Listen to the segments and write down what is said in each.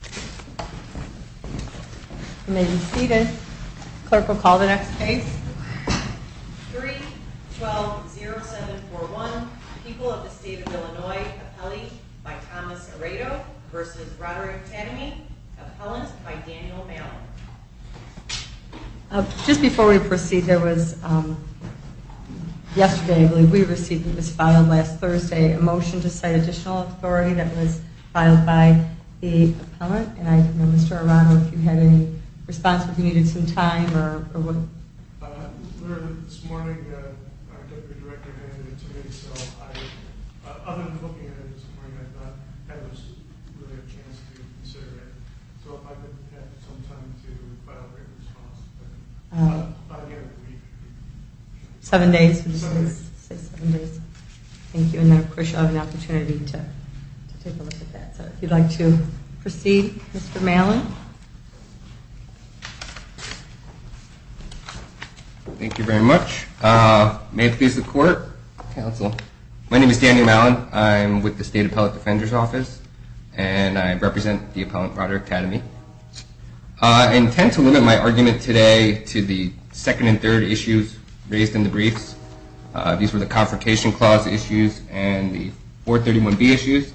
3, 12, 0, 7, 4, 1. People of the State of Illinois. Appellee by Thomas Aredo v. Roderick Tademy. Appellant by Daniel Bauer. Just before we proceed, there was, yesterday I believe we received, it was filed last Thursday, a motion to cite additional authority that was filed by the appellant. And I don't know, Mr. Arado, if you had any response or if you needed some time or what? This morning, our deputy director handed it to me, so I, other than looking at it this morning, I thought that was really a chance to consider it. So if I could have some time to file a written response. I'll give it a week. Seven days. Seven days. Thank you. And of course, you'll have an opportunity to take a look at that. If you'd like to proceed, Mr. Malan. Thank you very much. May it please the court, counsel. My name is Daniel Malan. I'm with the State Appellate Defender's Office, and I represent the Appellant Roderick Tademy. I intend to limit my argument today to the second and third issues raised in the briefs. These were the Confrontation Clause issues and the 431B issues.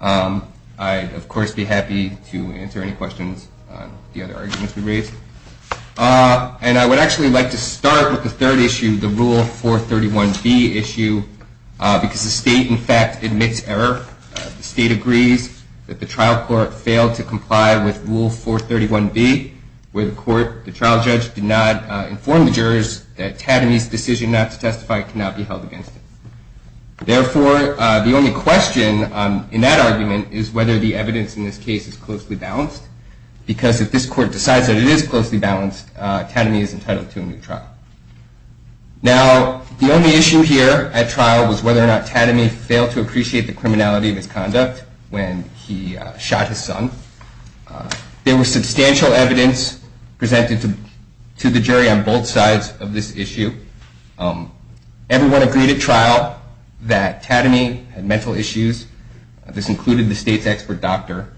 I'd, of course, be happy to answer any questions on the other arguments we raised. And I would actually like to start with the third issue, the Rule 431B issue, because the state, in fact, admits error. The state agrees that the trial court failed to comply with Rule 431B, where the trial judge did not inform the jurors that Tademy's decision not to testify cannot be held against him. Therefore, the only question in that argument is whether the evidence in this case is closely balanced, because if this court decides that it is closely balanced, Tademy is entitled to a new trial. Now, the only issue here at trial was whether or not Tademy failed to appreciate the criminality of his conduct when he shot his son. There was substantial evidence presented to the jury on both sides of this issue. Everyone agreed at trial that Tademy had mental issues. This included the state's expert doctor.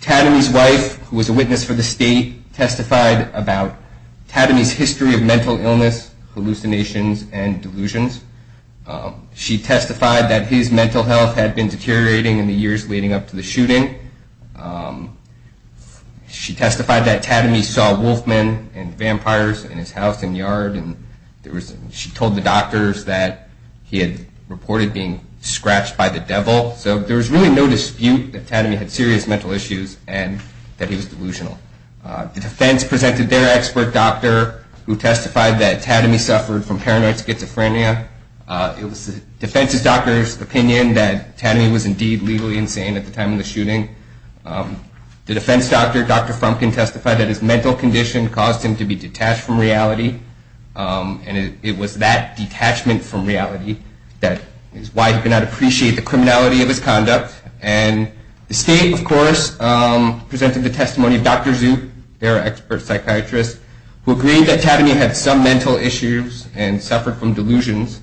Tademy's wife, who was a witness for the state, testified about Tademy's history of mental illness, hallucinations, and delusions. She testified that his mental health had been deteriorating in the years leading up to the shooting. She testified that Tademy saw wolf men and vampires in his house and yard. She told the doctors that he had reported being scratched by the devil. So there was really no dispute that Tademy had serious mental issues and that he was delusional. The defense presented their expert doctor, who testified that Tademy suffered from paranoid schizophrenia. It was the defense's doctor's opinion that Tademy was indeed legally insane at the time of the shooting. The defense doctor, Dr. Frumkin, testified that his mental condition caused him to be detached from reality, and it was that detachment from reality that is why he could not appreciate the criminality of his conduct. And the state, of course, presented the testimony of Dr. Zook, their expert psychiatrist, who agreed that Tademy had some mental issues and suffered from delusions,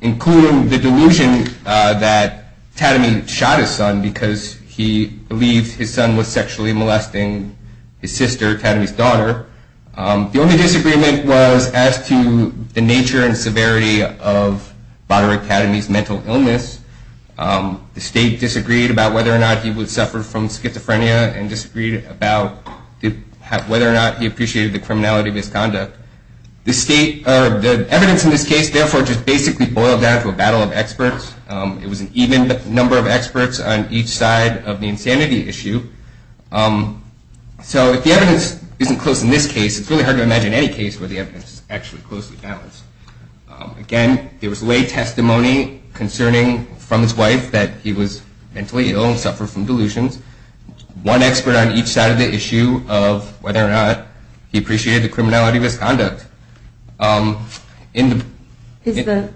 including the delusion that Tademy shot his son because he believed his son was sexually molesting his sister, Tademy's daughter. The only disagreement was as to the nature and severity of Dr. Tademy's mental illness. The state disagreed about whether or not he would suffer from schizophrenia and disagreed about whether or not he appreciated the criminality of his conduct. The evidence in this case, therefore, just basically boiled down to a battle of experts. It was an even number of experts on each side of the insanity issue. So if the evidence isn't close in this case, it's really hard to imagine any case where the evidence is actually closely balanced. Again, there was lay testimony concerning from his wife that he was mentally ill and suffered from delusions. One expert on each side of the issue of whether or not he appreciated the criminality of his conduct. Is the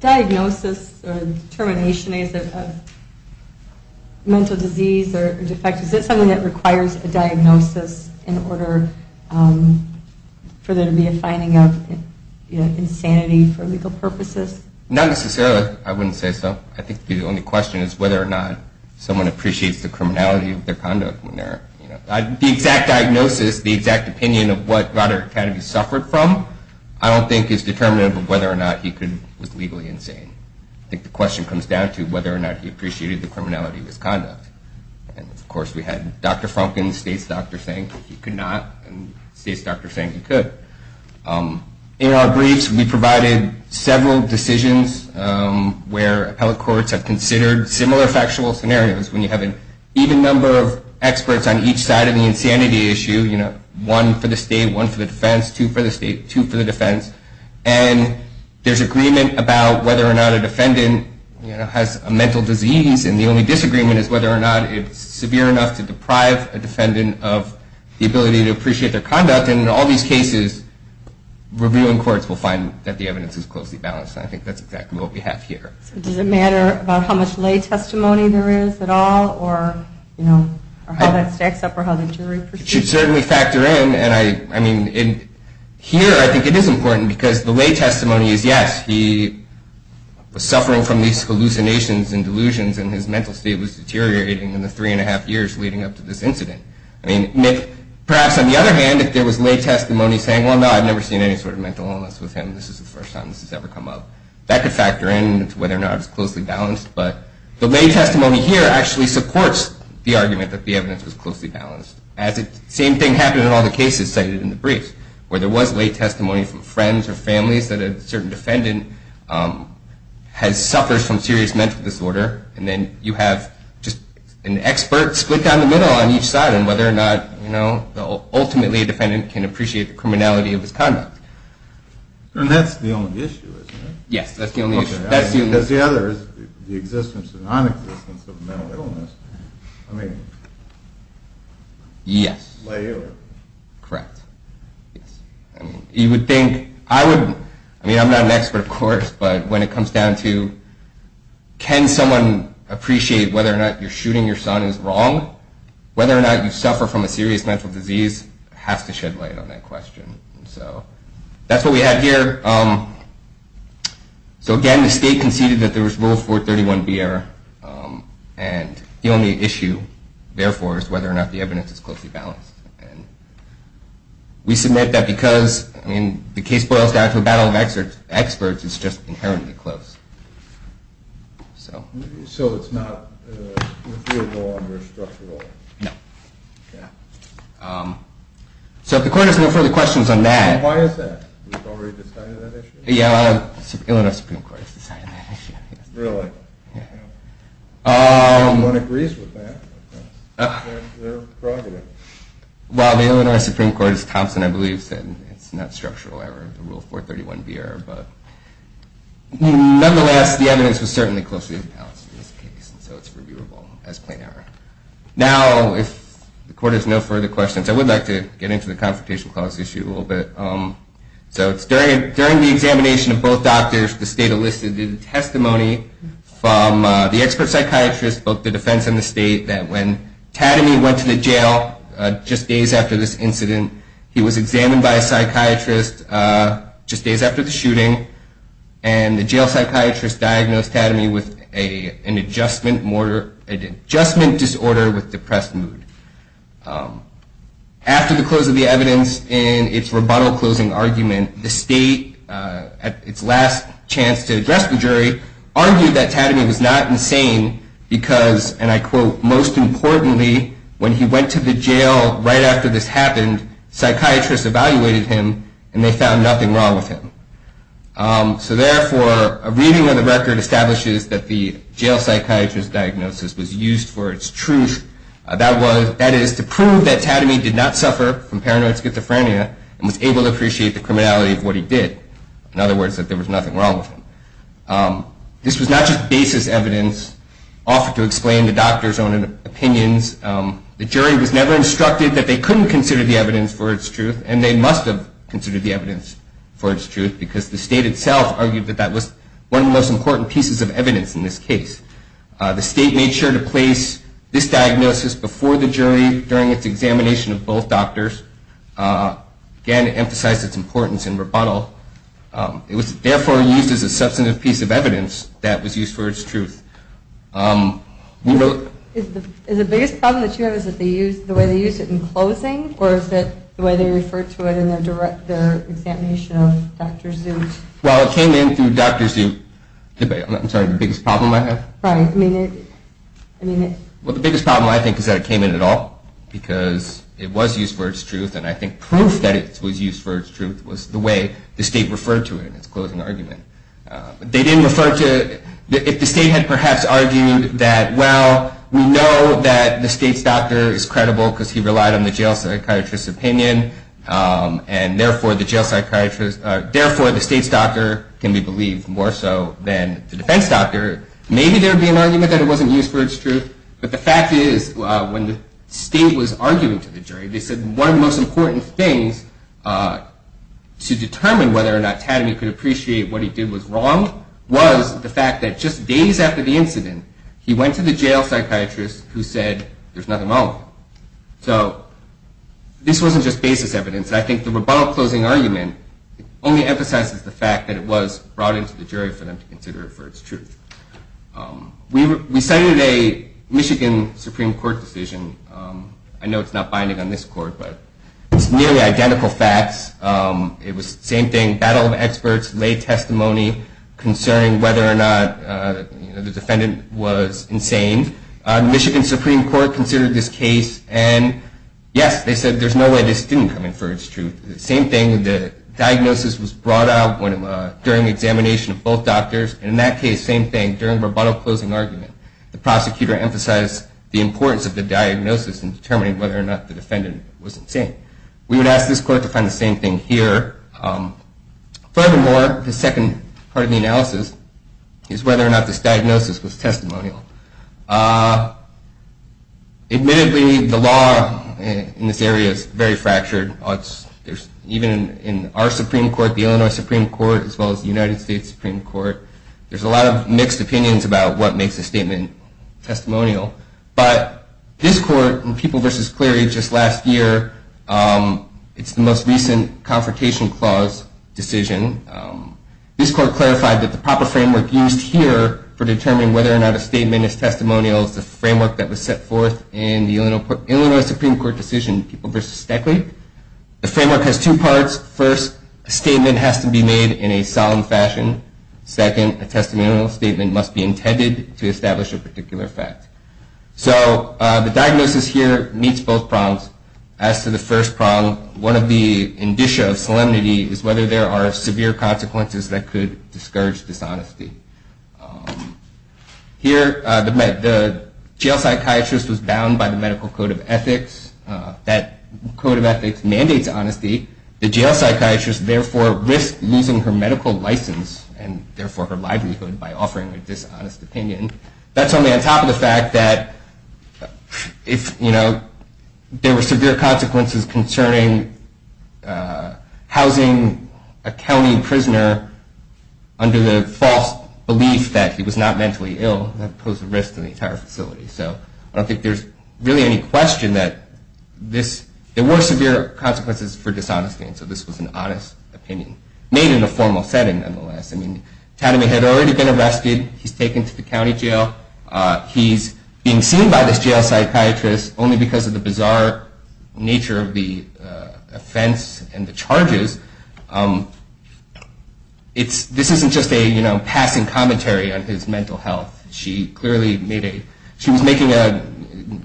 diagnosis or determination, is it a mental disease or defect? Is it something that requires a diagnosis in order for there to be a finding of insanity for legal purposes? Not necessarily. I wouldn't say so. I think the only question is whether or not someone appreciates the criminality of their conduct. The exact diagnosis, the exact opinion of what Roderick Kennedy suffered from, I don't think is determinative of whether or not he was legally insane. I think the question comes down to whether or not he appreciated the criminality of his conduct. Of course, we had Dr. Frumkin, the state's doctor, saying he could not and the state's doctor saying he could. In our briefs, we provided several decisions where appellate courts have considered similar factual scenarios when you have an even number of experts on each side of the insanity issue. One for the state, one for the defense, two for the state, two for the defense. There's agreement about whether or not a defendant has a mental disease. The only disagreement is whether or not it's severe enough to deprive a defendant of the ability to appreciate their conduct. In all these cases, reviewing courts will find that the evidence is closely balanced. I think that's exactly what we have here. Does it matter about how much lay testimony there is at all or how that stacks up or how the jury perceives it? It should certainly factor in. Here, I think it is important because the lay testimony is yes, he was suffering from these hallucinations and delusions and his mental state was deteriorating in the three and a half years leading up to this incident. Perhaps on the other hand, if there was lay testimony saying, well no, I've never seen any sort of mental illness with him, this is the first time this has ever come up, that could factor in to whether or not it's closely balanced. But the lay testimony here actually supports the argument that the evidence was closely balanced. Same thing happened in all the cases cited in the briefs, where there was lay testimony from friends or families that a certain defendant suffers from serious mental disorder and then you have an expert split down the middle on each side on whether or not ultimately a defendant can appreciate the criminality of his conduct. And that's the only issue, isn't it? Yes, that's the only issue. Because the other is the existence or non-existence of mental illness. I mean, lay or... Yes, correct. You would think, I would, I mean I'm not an expert of course, but when it comes down to can someone appreciate whether or not you're shooting your son is wrong, whether or not you suffer from a serious mental disease has to shed light on that question. So that's what we have here. So again, the state conceded that there was Rule 431B error. And the only issue, therefore, is whether or not the evidence is closely balanced. We submit that because, I mean, the case boils down to a battle of experts, it's just inherently close. So it's not with your law and your structural law? No. Okay. So if the court has no further questions on that... Why is that? You've already decided on that issue? Yeah, Illinois Supreme Court has decided on that issue. Really? Yeah. No one agrees with that. They're prerogative. Well, the Illinois Supreme Court, as Thompson, I believe, said it's not structural error, the Rule 431B error. But nonetheless, the evidence was certainly closely balanced in this case, so it's reviewable as plain error. Now, if the court has no further questions, I would like to get into the Confrontation Clause issue a little bit. So it's during the examination of both doctors, the state elicited a testimony from the expert psychiatrist, both the defense and the state, that when Tadamy went to the jail just days after this incident, he was examined by a psychiatrist just days after the shooting, and the jail psychiatrist diagnosed Tadamy with an adjustment disorder with depressed mood. After the close of the evidence in its rebuttal closing argument, the state, at its last chance to address the jury, argued that Tadamy was not insane because, and I quote, most importantly, when he went to the jail right after this happened, psychiatrists evaluated him and they found nothing wrong with him. So therefore, a reading of the record establishes that the jail psychiatrist's diagnosis was used for its truth. That is, to prove that Tadamy did not suffer from paranoid schizophrenia and was able to appreciate the criminality of what he did. This was not just basis evidence offered to explain the doctor's own opinions. The jury was never instructed that they couldn't consider the evidence for its truth, and they must have considered the evidence for its truth because the state itself argued that that was one of the most important pieces of evidence in this case. The state made sure to place this diagnosis before the jury during its examination of both doctors. Again, it emphasized its importance in rebuttal. It was therefore used as a substantive piece of evidence that was used for its truth. Is the biggest problem that you have is the way they used it in closing, or is it the way they referred to it in their examination of Dr. Zoot? Well, it came in through Dr. Zoot. I'm sorry, the biggest problem I have? Right. I mean, it... Well, the biggest problem I think is that it came in at all because it was used for its truth, and I think proof that it was used for its truth was the way the state referred to it in its closing argument. They didn't refer to... If the state had perhaps argued that, well, we know that the state's doctor is credible because he relied on the jail psychiatrist's opinion, and therefore the state's doctor can be believed more so than the defense doctor, maybe there would be an argument that it wasn't used for its truth. They said one of the most important things to determine whether or not Tadamy could appreciate what he did was wrong was the fact that just days after the incident, he went to the jail psychiatrist who said, there's nothing wrong with it. So this wasn't just basis evidence. I think the rebuttal closing argument only emphasizes the fact that it was brought into the jury for them to consider it for its truth. We cited a Michigan Supreme Court decision. I know it's not binding on this court, but it's nearly identical facts. It was the same thing, battle of experts, lay testimony concerning whether or not the defendant was insane. The Michigan Supreme Court considered this case, and yes, they said there's no way this didn't come in for its truth. The same thing, the diagnosis was brought out during the examination of both doctors, and in that case, same thing, during the rebuttal closing argument, the prosecutor emphasized the importance of the diagnosis in determining whether or not the defendant was insane. We would ask this court to find the same thing here. Furthermore, the second part of the analysis is whether or not this diagnosis was testimonial. Admittedly, the law in this area is very fractured. Even in our Supreme Court, the Illinois Supreme Court, as well as the United States Supreme Court, there's a lot of mixed opinions about what makes a statement testimonial. But this court in People v. Cleary just last year, it's the most recent Confrontation Clause decision. This court clarified that the proper framework used here for determining whether or not a statement is testimonial is the framework that was set forth in the Illinois Supreme Court decision, People v. Stackley. The framework has two parts. First, a statement has to be made in a solemn fashion. Second, a testimonial statement must be intended to establish a particular fact. So the diagnosis here meets both prongs. As to the first prong, one of the indicia of solemnity is whether there are severe consequences that could discourage dishonesty. Here, the jail psychiatrist was bound by the medical code of ethics. That code of ethics mandates honesty. The jail psychiatrist therefore risked losing her medical license, and therefore her livelihood, by offering a dishonest opinion. That's only on top of the fact that if there were severe consequences concerning housing a county prisoner under the false belief that he was not mentally ill, that would pose a risk to the entire facility. So I don't think there's really any question that there were severe consequences for dishonesty, and so this was an honest opinion made in a formal setting, nonetheless. I mean, Tadamy had already been arrested. He's taken to the county jail. He's being seen by this jail psychiatrist only because of the bizarre nature of the offense and the charges. This isn't just a passing commentary on his mental health. She was making a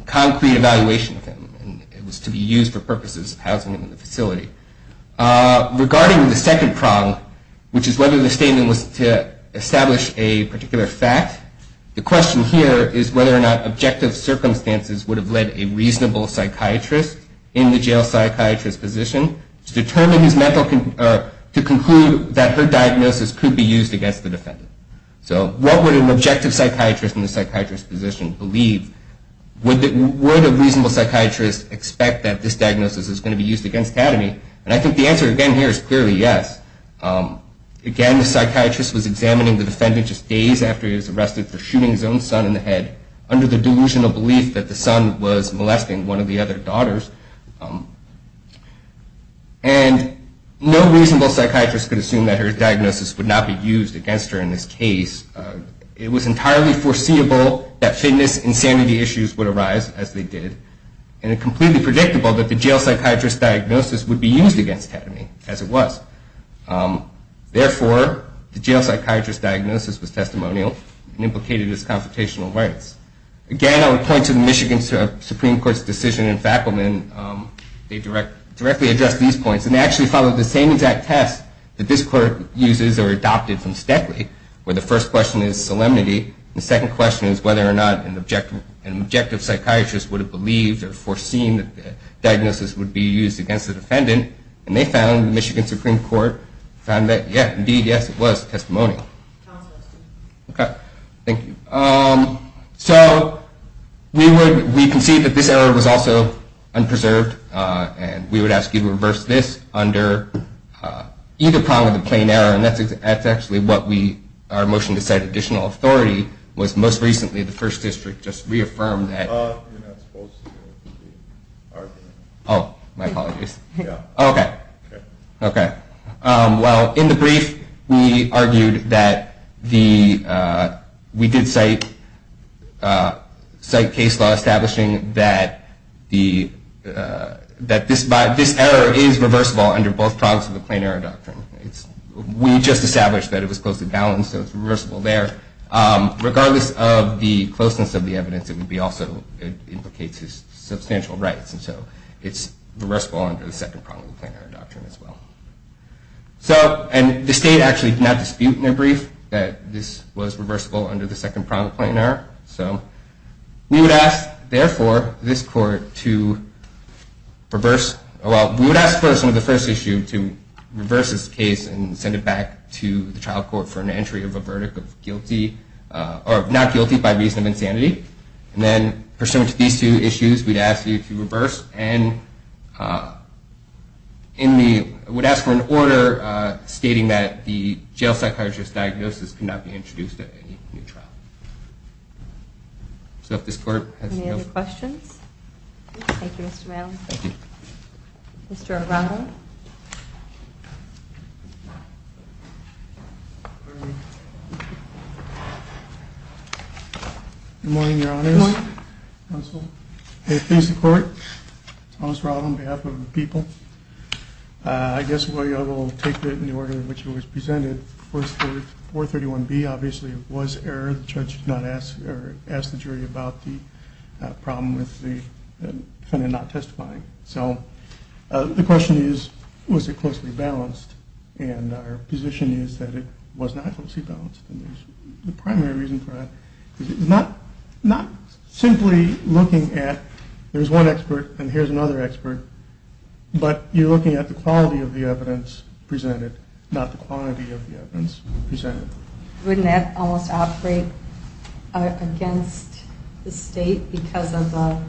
concrete evaluation of him, and it was to be used for purposes of housing him in the facility. Regarding the second prong, which is whether the statement was to establish a particular fact, the question here is whether or not objective circumstances would have led a reasonable psychiatrist in the jail psychiatrist's position to conclude that her diagnosis could be used against the defendant. So what would an objective psychiatrist in the psychiatrist's position believe? Would a reasonable psychiatrist expect that this diagnosis is going to be used against Tadamy? And I think the answer again here is clearly yes. Again, the psychiatrist was examining the defendant just days after he was arrested for shooting his own son in the head under the delusional belief that the son was molesting one of the other daughters, and no reasonable psychiatrist could assume that her diagnosis would not be used against her in this case. It was entirely foreseeable that fitness insanity issues would arise, as they did, and it's completely predictable that the jail psychiatrist's diagnosis would be used against Tadamy, as it was. Therefore, the jail psychiatrist's diagnosis was testimonial and implicated his confrontational rights. Again, I would point to the Michigan Supreme Court's decision in Fackleman. They directly addressed these points, and they actually followed the same exact test that this court uses or adopted from Steadley, where the first question is solemnity, and the second question is whether or not an objective psychiatrist would have believed or foreseen that the diagnosis would be used against the defendant, and they found, the Michigan Supreme Court, found that, yes, indeed, yes, it was testimonial. Okay, thank you. So we concede that this error was also unpreserved, and we would ask you to reverse this under either prong of the plain error, and that's actually what our motion to set additional authority was most recently. The First District just reaffirmed that. You're not supposed to argue. Oh, my apologies. Yeah. Okay. Okay. Well, in the brief, we argued that we did cite case law establishing that this error is reversible under both prongs of the plain error doctrine. We just established that it was closely balanced, so it's reversible there. Regardless of the closeness of the evidence, it also implicates his substantial rights, and so it's reversible under the second prong of the plain error doctrine as well. And the state actually did not dispute in their brief that this was reversible under the second prong of the plain error. So we would ask, therefore, this court to reverse. Well, we would ask, first, under the first issue, to reverse this case and send it back to the trial court for an entry of a verdict of guilty or not guilty by reason of insanity. And then pursuant to these two issues, we'd ask you to reverse and would ask for an order stating that the jail psychiatrist's diagnosis could not be introduced at any new trial. So if this court has no questions. Any other questions? Thank you, Mr. Maddow. Thank you. Mr. Araujo. Mr. Maddow. Good morning, Your Honors. Good morning. Counsel. I thank the court. Thomas Raab on behalf of the people. I guess we'll take it in the order in which it was presented. 431B obviously was error. The judge did not ask the jury about the problem with the defendant not testifying. So the question is, was it closely balanced? And our position is that it was not closely balanced. And the primary reason for that is not simply looking at there's one expert and here's another expert, but you're looking at the quality of the evidence presented, not the quantity of the evidence presented. Wouldn't that almost operate against the state because of the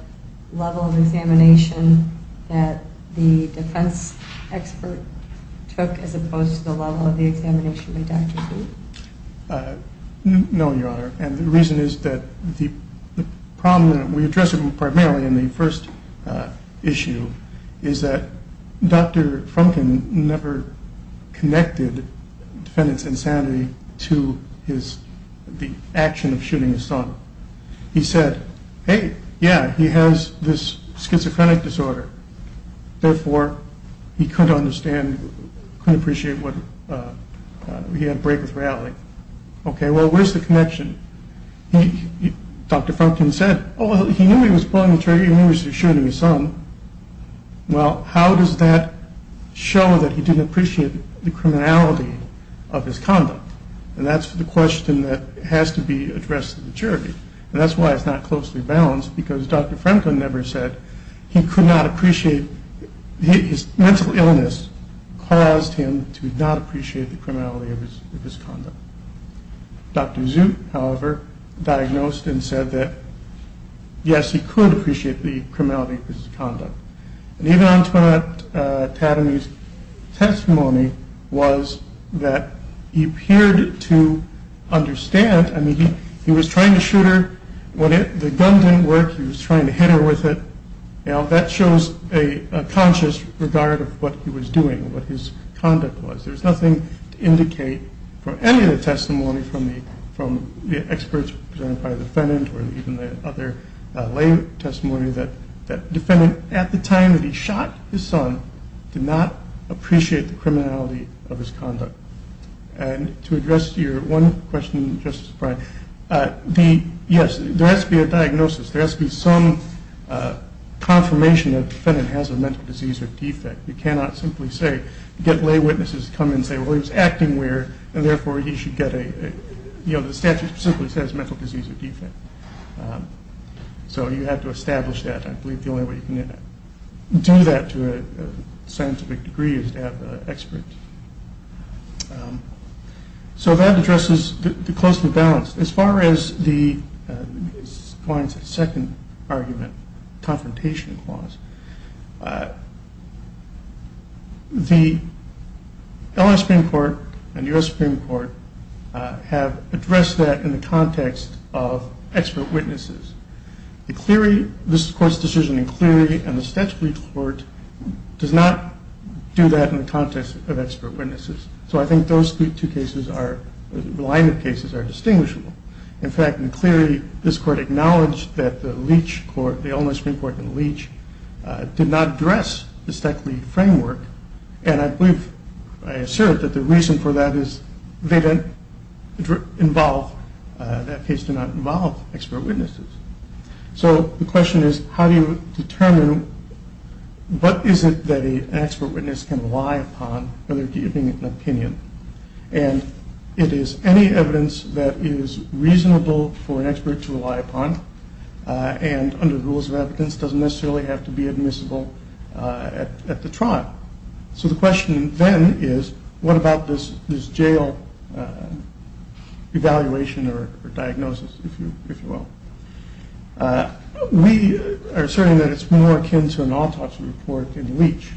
level of examination that the defense expert took as opposed to the level of the examination by Dr. Kuhn? No, Your Honor. And the reason is that the problem that we addressed primarily in the first issue is that Dr. Frumkin never connected defendant's insanity to the action of shooting his son. He said, hey, yeah, he has this schizophrenic disorder. Therefore, he couldn't appreciate what he had to break with reality. Okay, well, where's the connection? Dr. Frumkin said, oh, he knew he was pulling the trigger. He knew he was shooting his son. Well, how does that show that he didn't appreciate the criminality of his conduct? And that's the question that has to be addressed to the jury. And that's why it's not closely balanced because Dr. Frumkin never said he could not appreciate his mental illness caused him to not appreciate the criminality of his conduct. Dr. Zoot, however, diagnosed and said that, yes, he could appreciate the criminality of his conduct. And even Antoine Tatamy's testimony was that he appeared to understand. I mean, he was trying to shoot her. When the gun didn't work, he was trying to hit her with it. Now, that shows a conscious regard of what he was doing, what his conduct was. There's nothing to indicate from any of the testimony from the experts presented by the defendant or even the other lay testimony that the defendant, at the time that he shot his son, did not appreciate the criminality of his conduct. And to address your one question, Justice Breyer, yes, there has to be a diagnosis. There has to be some confirmation that the defendant has a mental disease or defect. You cannot simply say, get lay witnesses to come and say, well, he was acting weird, and therefore he should get a, you know, the statute simply says mental disease or defect. So you have to establish that. I believe the only way you can do that to a scientific degree is to have an expert. So that addresses the close to the balance. As far as the second argument, confrontation clause, the L.A. Supreme Court and the U.S. Supreme Court have addressed that in the context of expert witnesses. The Cleary, this Court's decision in Cleary and the Statutory Court does not do that in the context of expert witnesses. So I think those two cases are, the line of cases are distinguishable. In fact, in Cleary, this Court acknowledged that the Leach Court, the L.A. Supreme Court and the Leach did not address the SECLE framework, and I believe, I assert that the reason for that is they didn't involve, that case did not involve expert witnesses. So the question is, how do you determine what is it that an expert witness can rely upon when they're giving an opinion? And it is any evidence that is reasonable for an expert to rely upon and under the rules of evidence doesn't necessarily have to be admissible at the trial. So the question then is, what about this jail evaluation or diagnosis, if you will? We are asserting that it's more akin to an autopsy report than Leach.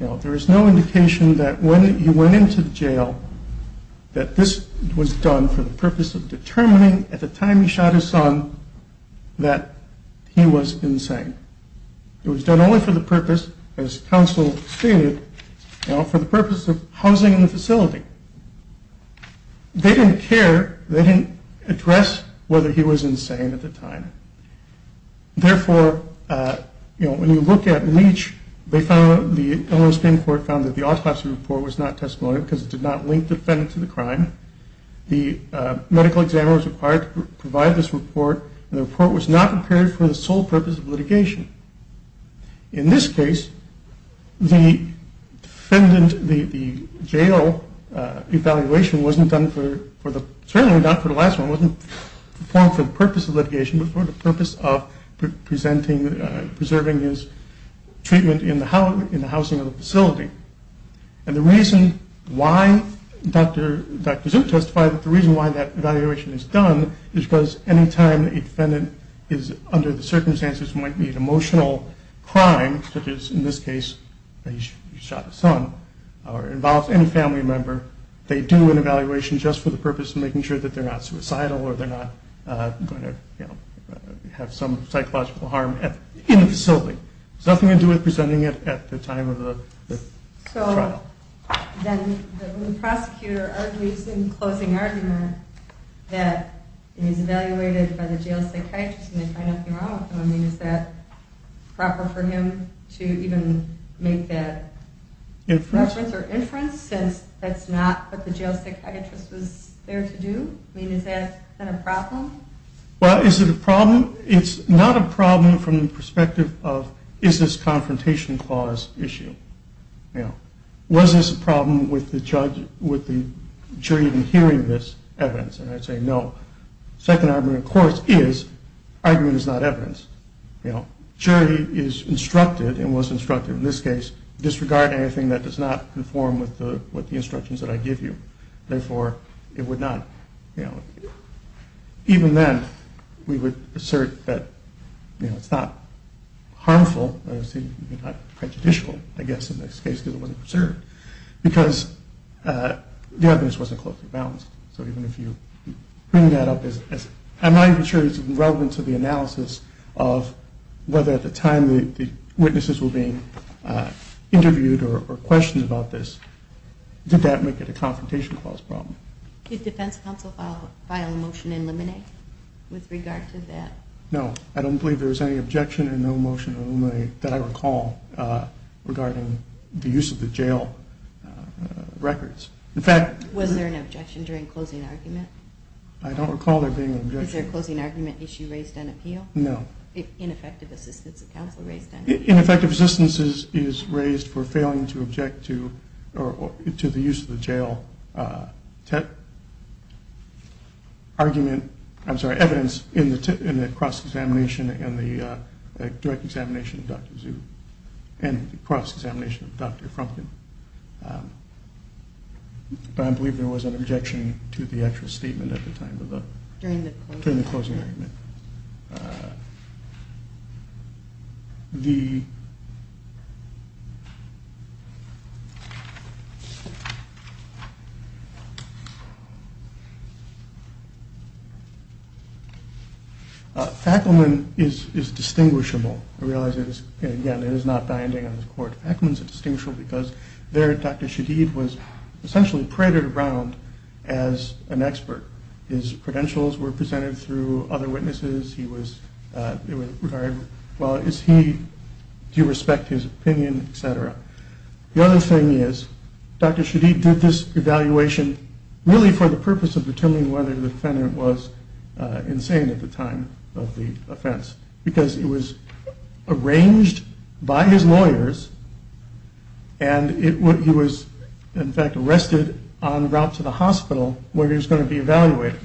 There is no indication that when he went into jail that this was done for the purpose of determining at the time he shot his son that he was insane. It was done only for the purpose, as counsel stated, for the purpose of housing in the facility. They didn't care, they didn't address whether he was insane at the time. Therefore, when you look at Leach, they found, the Illinois Supreme Court found that the autopsy report was not testimonial because it did not link the defendant to the crime. The medical examiner was required to provide this report and the report was not prepared for the sole purpose of litigation. In this case, the defendant, the jail evaluation wasn't done for the, certainly not for the last one, wasn't performed for the purpose of presenting, preserving his treatment in the housing of the facility. And the reason why Dr. Zook testified that the reason why that evaluation is done is because any time a defendant is under the circumstances of emotional crime, such as in this case, he shot his son, or involves any family member, they do an evaluation just for the purpose of making sure that they're not suicidal or they're not going to have some psychological harm in the facility. It has nothing to do with presenting it at the time of the trial. So then the prosecutor argues in closing argument that he's evaluated by the jail psychiatrist and they find nothing wrong with him. I mean, is that proper for him to even make that reference or inference since that's not what the jail psychiatrist was there to do? I mean, is that a problem? Well, is it a problem? It's not a problem from the perspective of is this a confrontation clause issue, you know. Was this a problem with the judge, with the jury even hearing this evidence? And I'd say no. Second argument, of course, is argument is not evidence, you know. Jury is instructed and was instructed in this case disregarding anything that does not conform with the instructions that I give you. Therefore, it would not, you know. Even then, we would assert that, you know, it's not harmful, it's not prejudicial, I guess, in this case because it wasn't preserved. Because the evidence wasn't closely balanced. So even if you bring that up as, I'm not even sure it's relevant to the analysis of whether at the time the witnesses were being interviewed or questioned about this, did that make it a confrontation clause problem? Did defense counsel file a motion to eliminate with regard to that? No. I don't believe there was any objection and no motion to eliminate that I recall regarding the use of the jail records. In fact, Was there an objection during closing argument? I don't recall there being an objection. Is there a closing argument issue raised on appeal? No. Ineffective assistance of counsel raised on appeal? Ineffective assistance is raised for failing to object to the use of the jail argument, I'm sorry, evidence in the cross-examination and the direct examination of Dr. Zhu and the cross-examination of Dr. Frumkin. But I believe there was an objection to the actual statement at the time of During the closing argument? During the closing argument. Fackleman is distinguishable. Again, it is not binding on the court. Fackleman is distinguishable because there Dr. Shadeed was essentially paraded around as an expert. His credentials were presented through other witnesses. He was, well, is he, do you respect his opinion, et cetera. The other thing is Dr. Shadeed did this evaluation really for the purpose of determining whether the defendant was insane at the time of the offense because it was arranged by his lawyers and he was in fact arrested on the route to the hospital where he was going to be evaluated.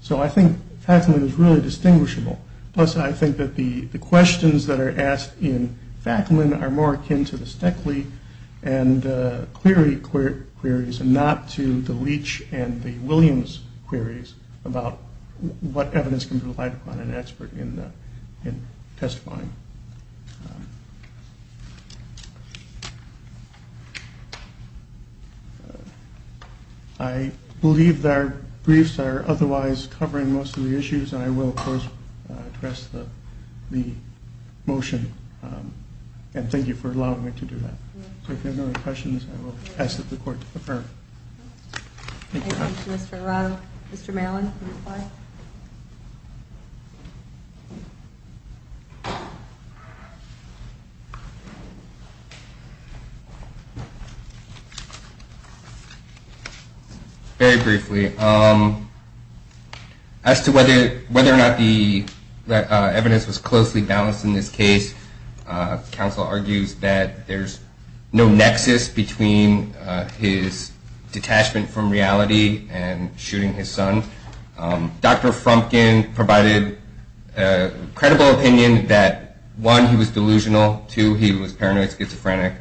So I think Fackleman is really distinguishable. Plus I think that the questions that are asked in Fackleman are more akin to the Steckley and Cleary queries and not to the Leach and the Williams queries about what evidence can be relied upon in an expert in testifying. I believe that our briefs are otherwise covering most of the issues and I will, of course, address the motion. And thank you for allowing me to do that. So if there are no other questions, I will ask that the court defer. Thank you, Mr. Arado. Mr. Maryland, will you reply? Very briefly. As to whether or not the evidence was closely balanced in this case, counsel argues that there's no nexus between his detachment from reality and shooting his son. Dr. Frumpkin provided a credible opinion that, one, he was delusional. Two, he was paranoid schizophrenic.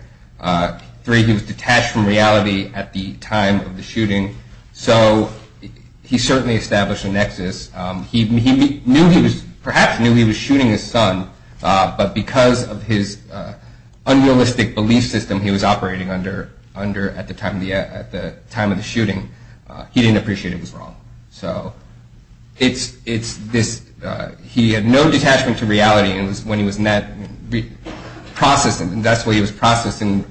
Three, he was detached from reality at the time of the shooting. So he certainly established a nexus. He perhaps knew he was shooting his son, but because of his unrealistic belief system he was operating under at the time of the shooting, he didn't appreciate it was wrong. He had no detachment to reality, and that's the way he was processing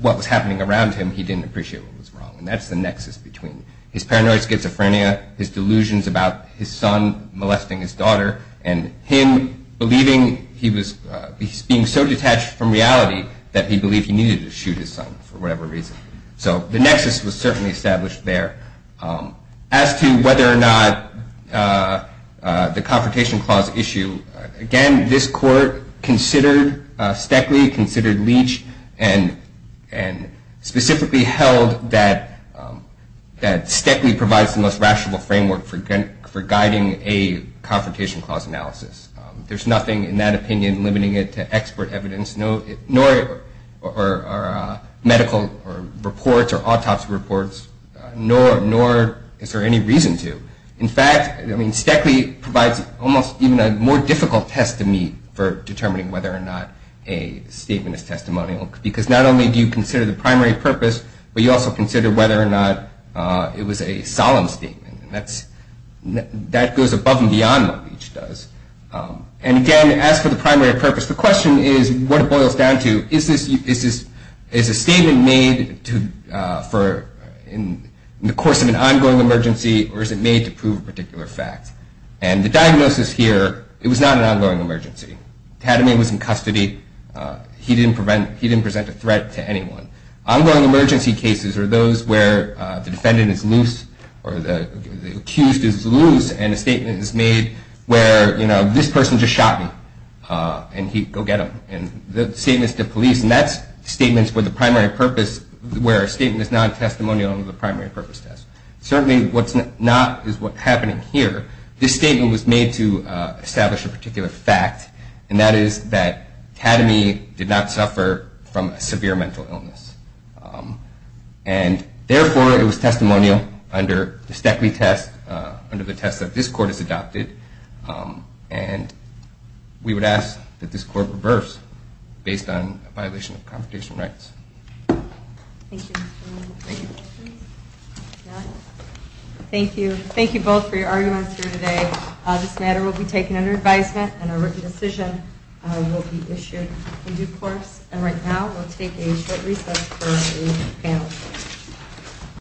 what was happening around him. He didn't appreciate what was wrong. And that's the nexus between his paranoid schizophrenia, his delusions about his son molesting his daughter, and him believing he was being so detached from reality that he believed he needed to shoot his son for whatever reason. So the nexus was certainly established there. As to whether or not the Confrontation Clause issue, again, this court considered Steckley, considered Leach, and specifically held that Steckley provides the most rational framework for guiding a Confrontation Clause analysis. There's nothing in that opinion limiting it to expert evidence, nor medical reports or autopsy reports, nor is there any reason to. In fact, Steckley provides almost even a more difficult test to meet for determining whether or not a statement is testimonial, because not only do you consider the primary purpose, but you also consider whether or not it was a solemn statement. That goes above and beyond what Leach does. And again, as for the primary purpose, the question is what it boils down to. Is a statement made in the course of an ongoing emergency or is it made to prove a particular fact? And the diagnosis here, it was not an ongoing emergency. Tatame was in custody. He didn't present a threat to anyone. Ongoing emergency cases are those where the defendant is loose or the accused is loose and a statement is made where, you know, this person just shot me, and go get him. And the statement is to police, and that statement is for the primary purpose, where a statement is not testimonial under the primary purpose test. Certainly what's not is what's happening here. But this statement was made to establish a particular fact, and that is that Tatame did not suffer from a severe mental illness. And therefore, it was testimonial under the STECI test, under the test that this Court has adopted, and we would ask that this Court reverse based on a violation of confrontation rights. Thank you. Thank you. Thank you both for your arguments here today. This matter will be taken under advisement, and a written decision will be issued in due course. And right now, we'll take a short recess for the panel.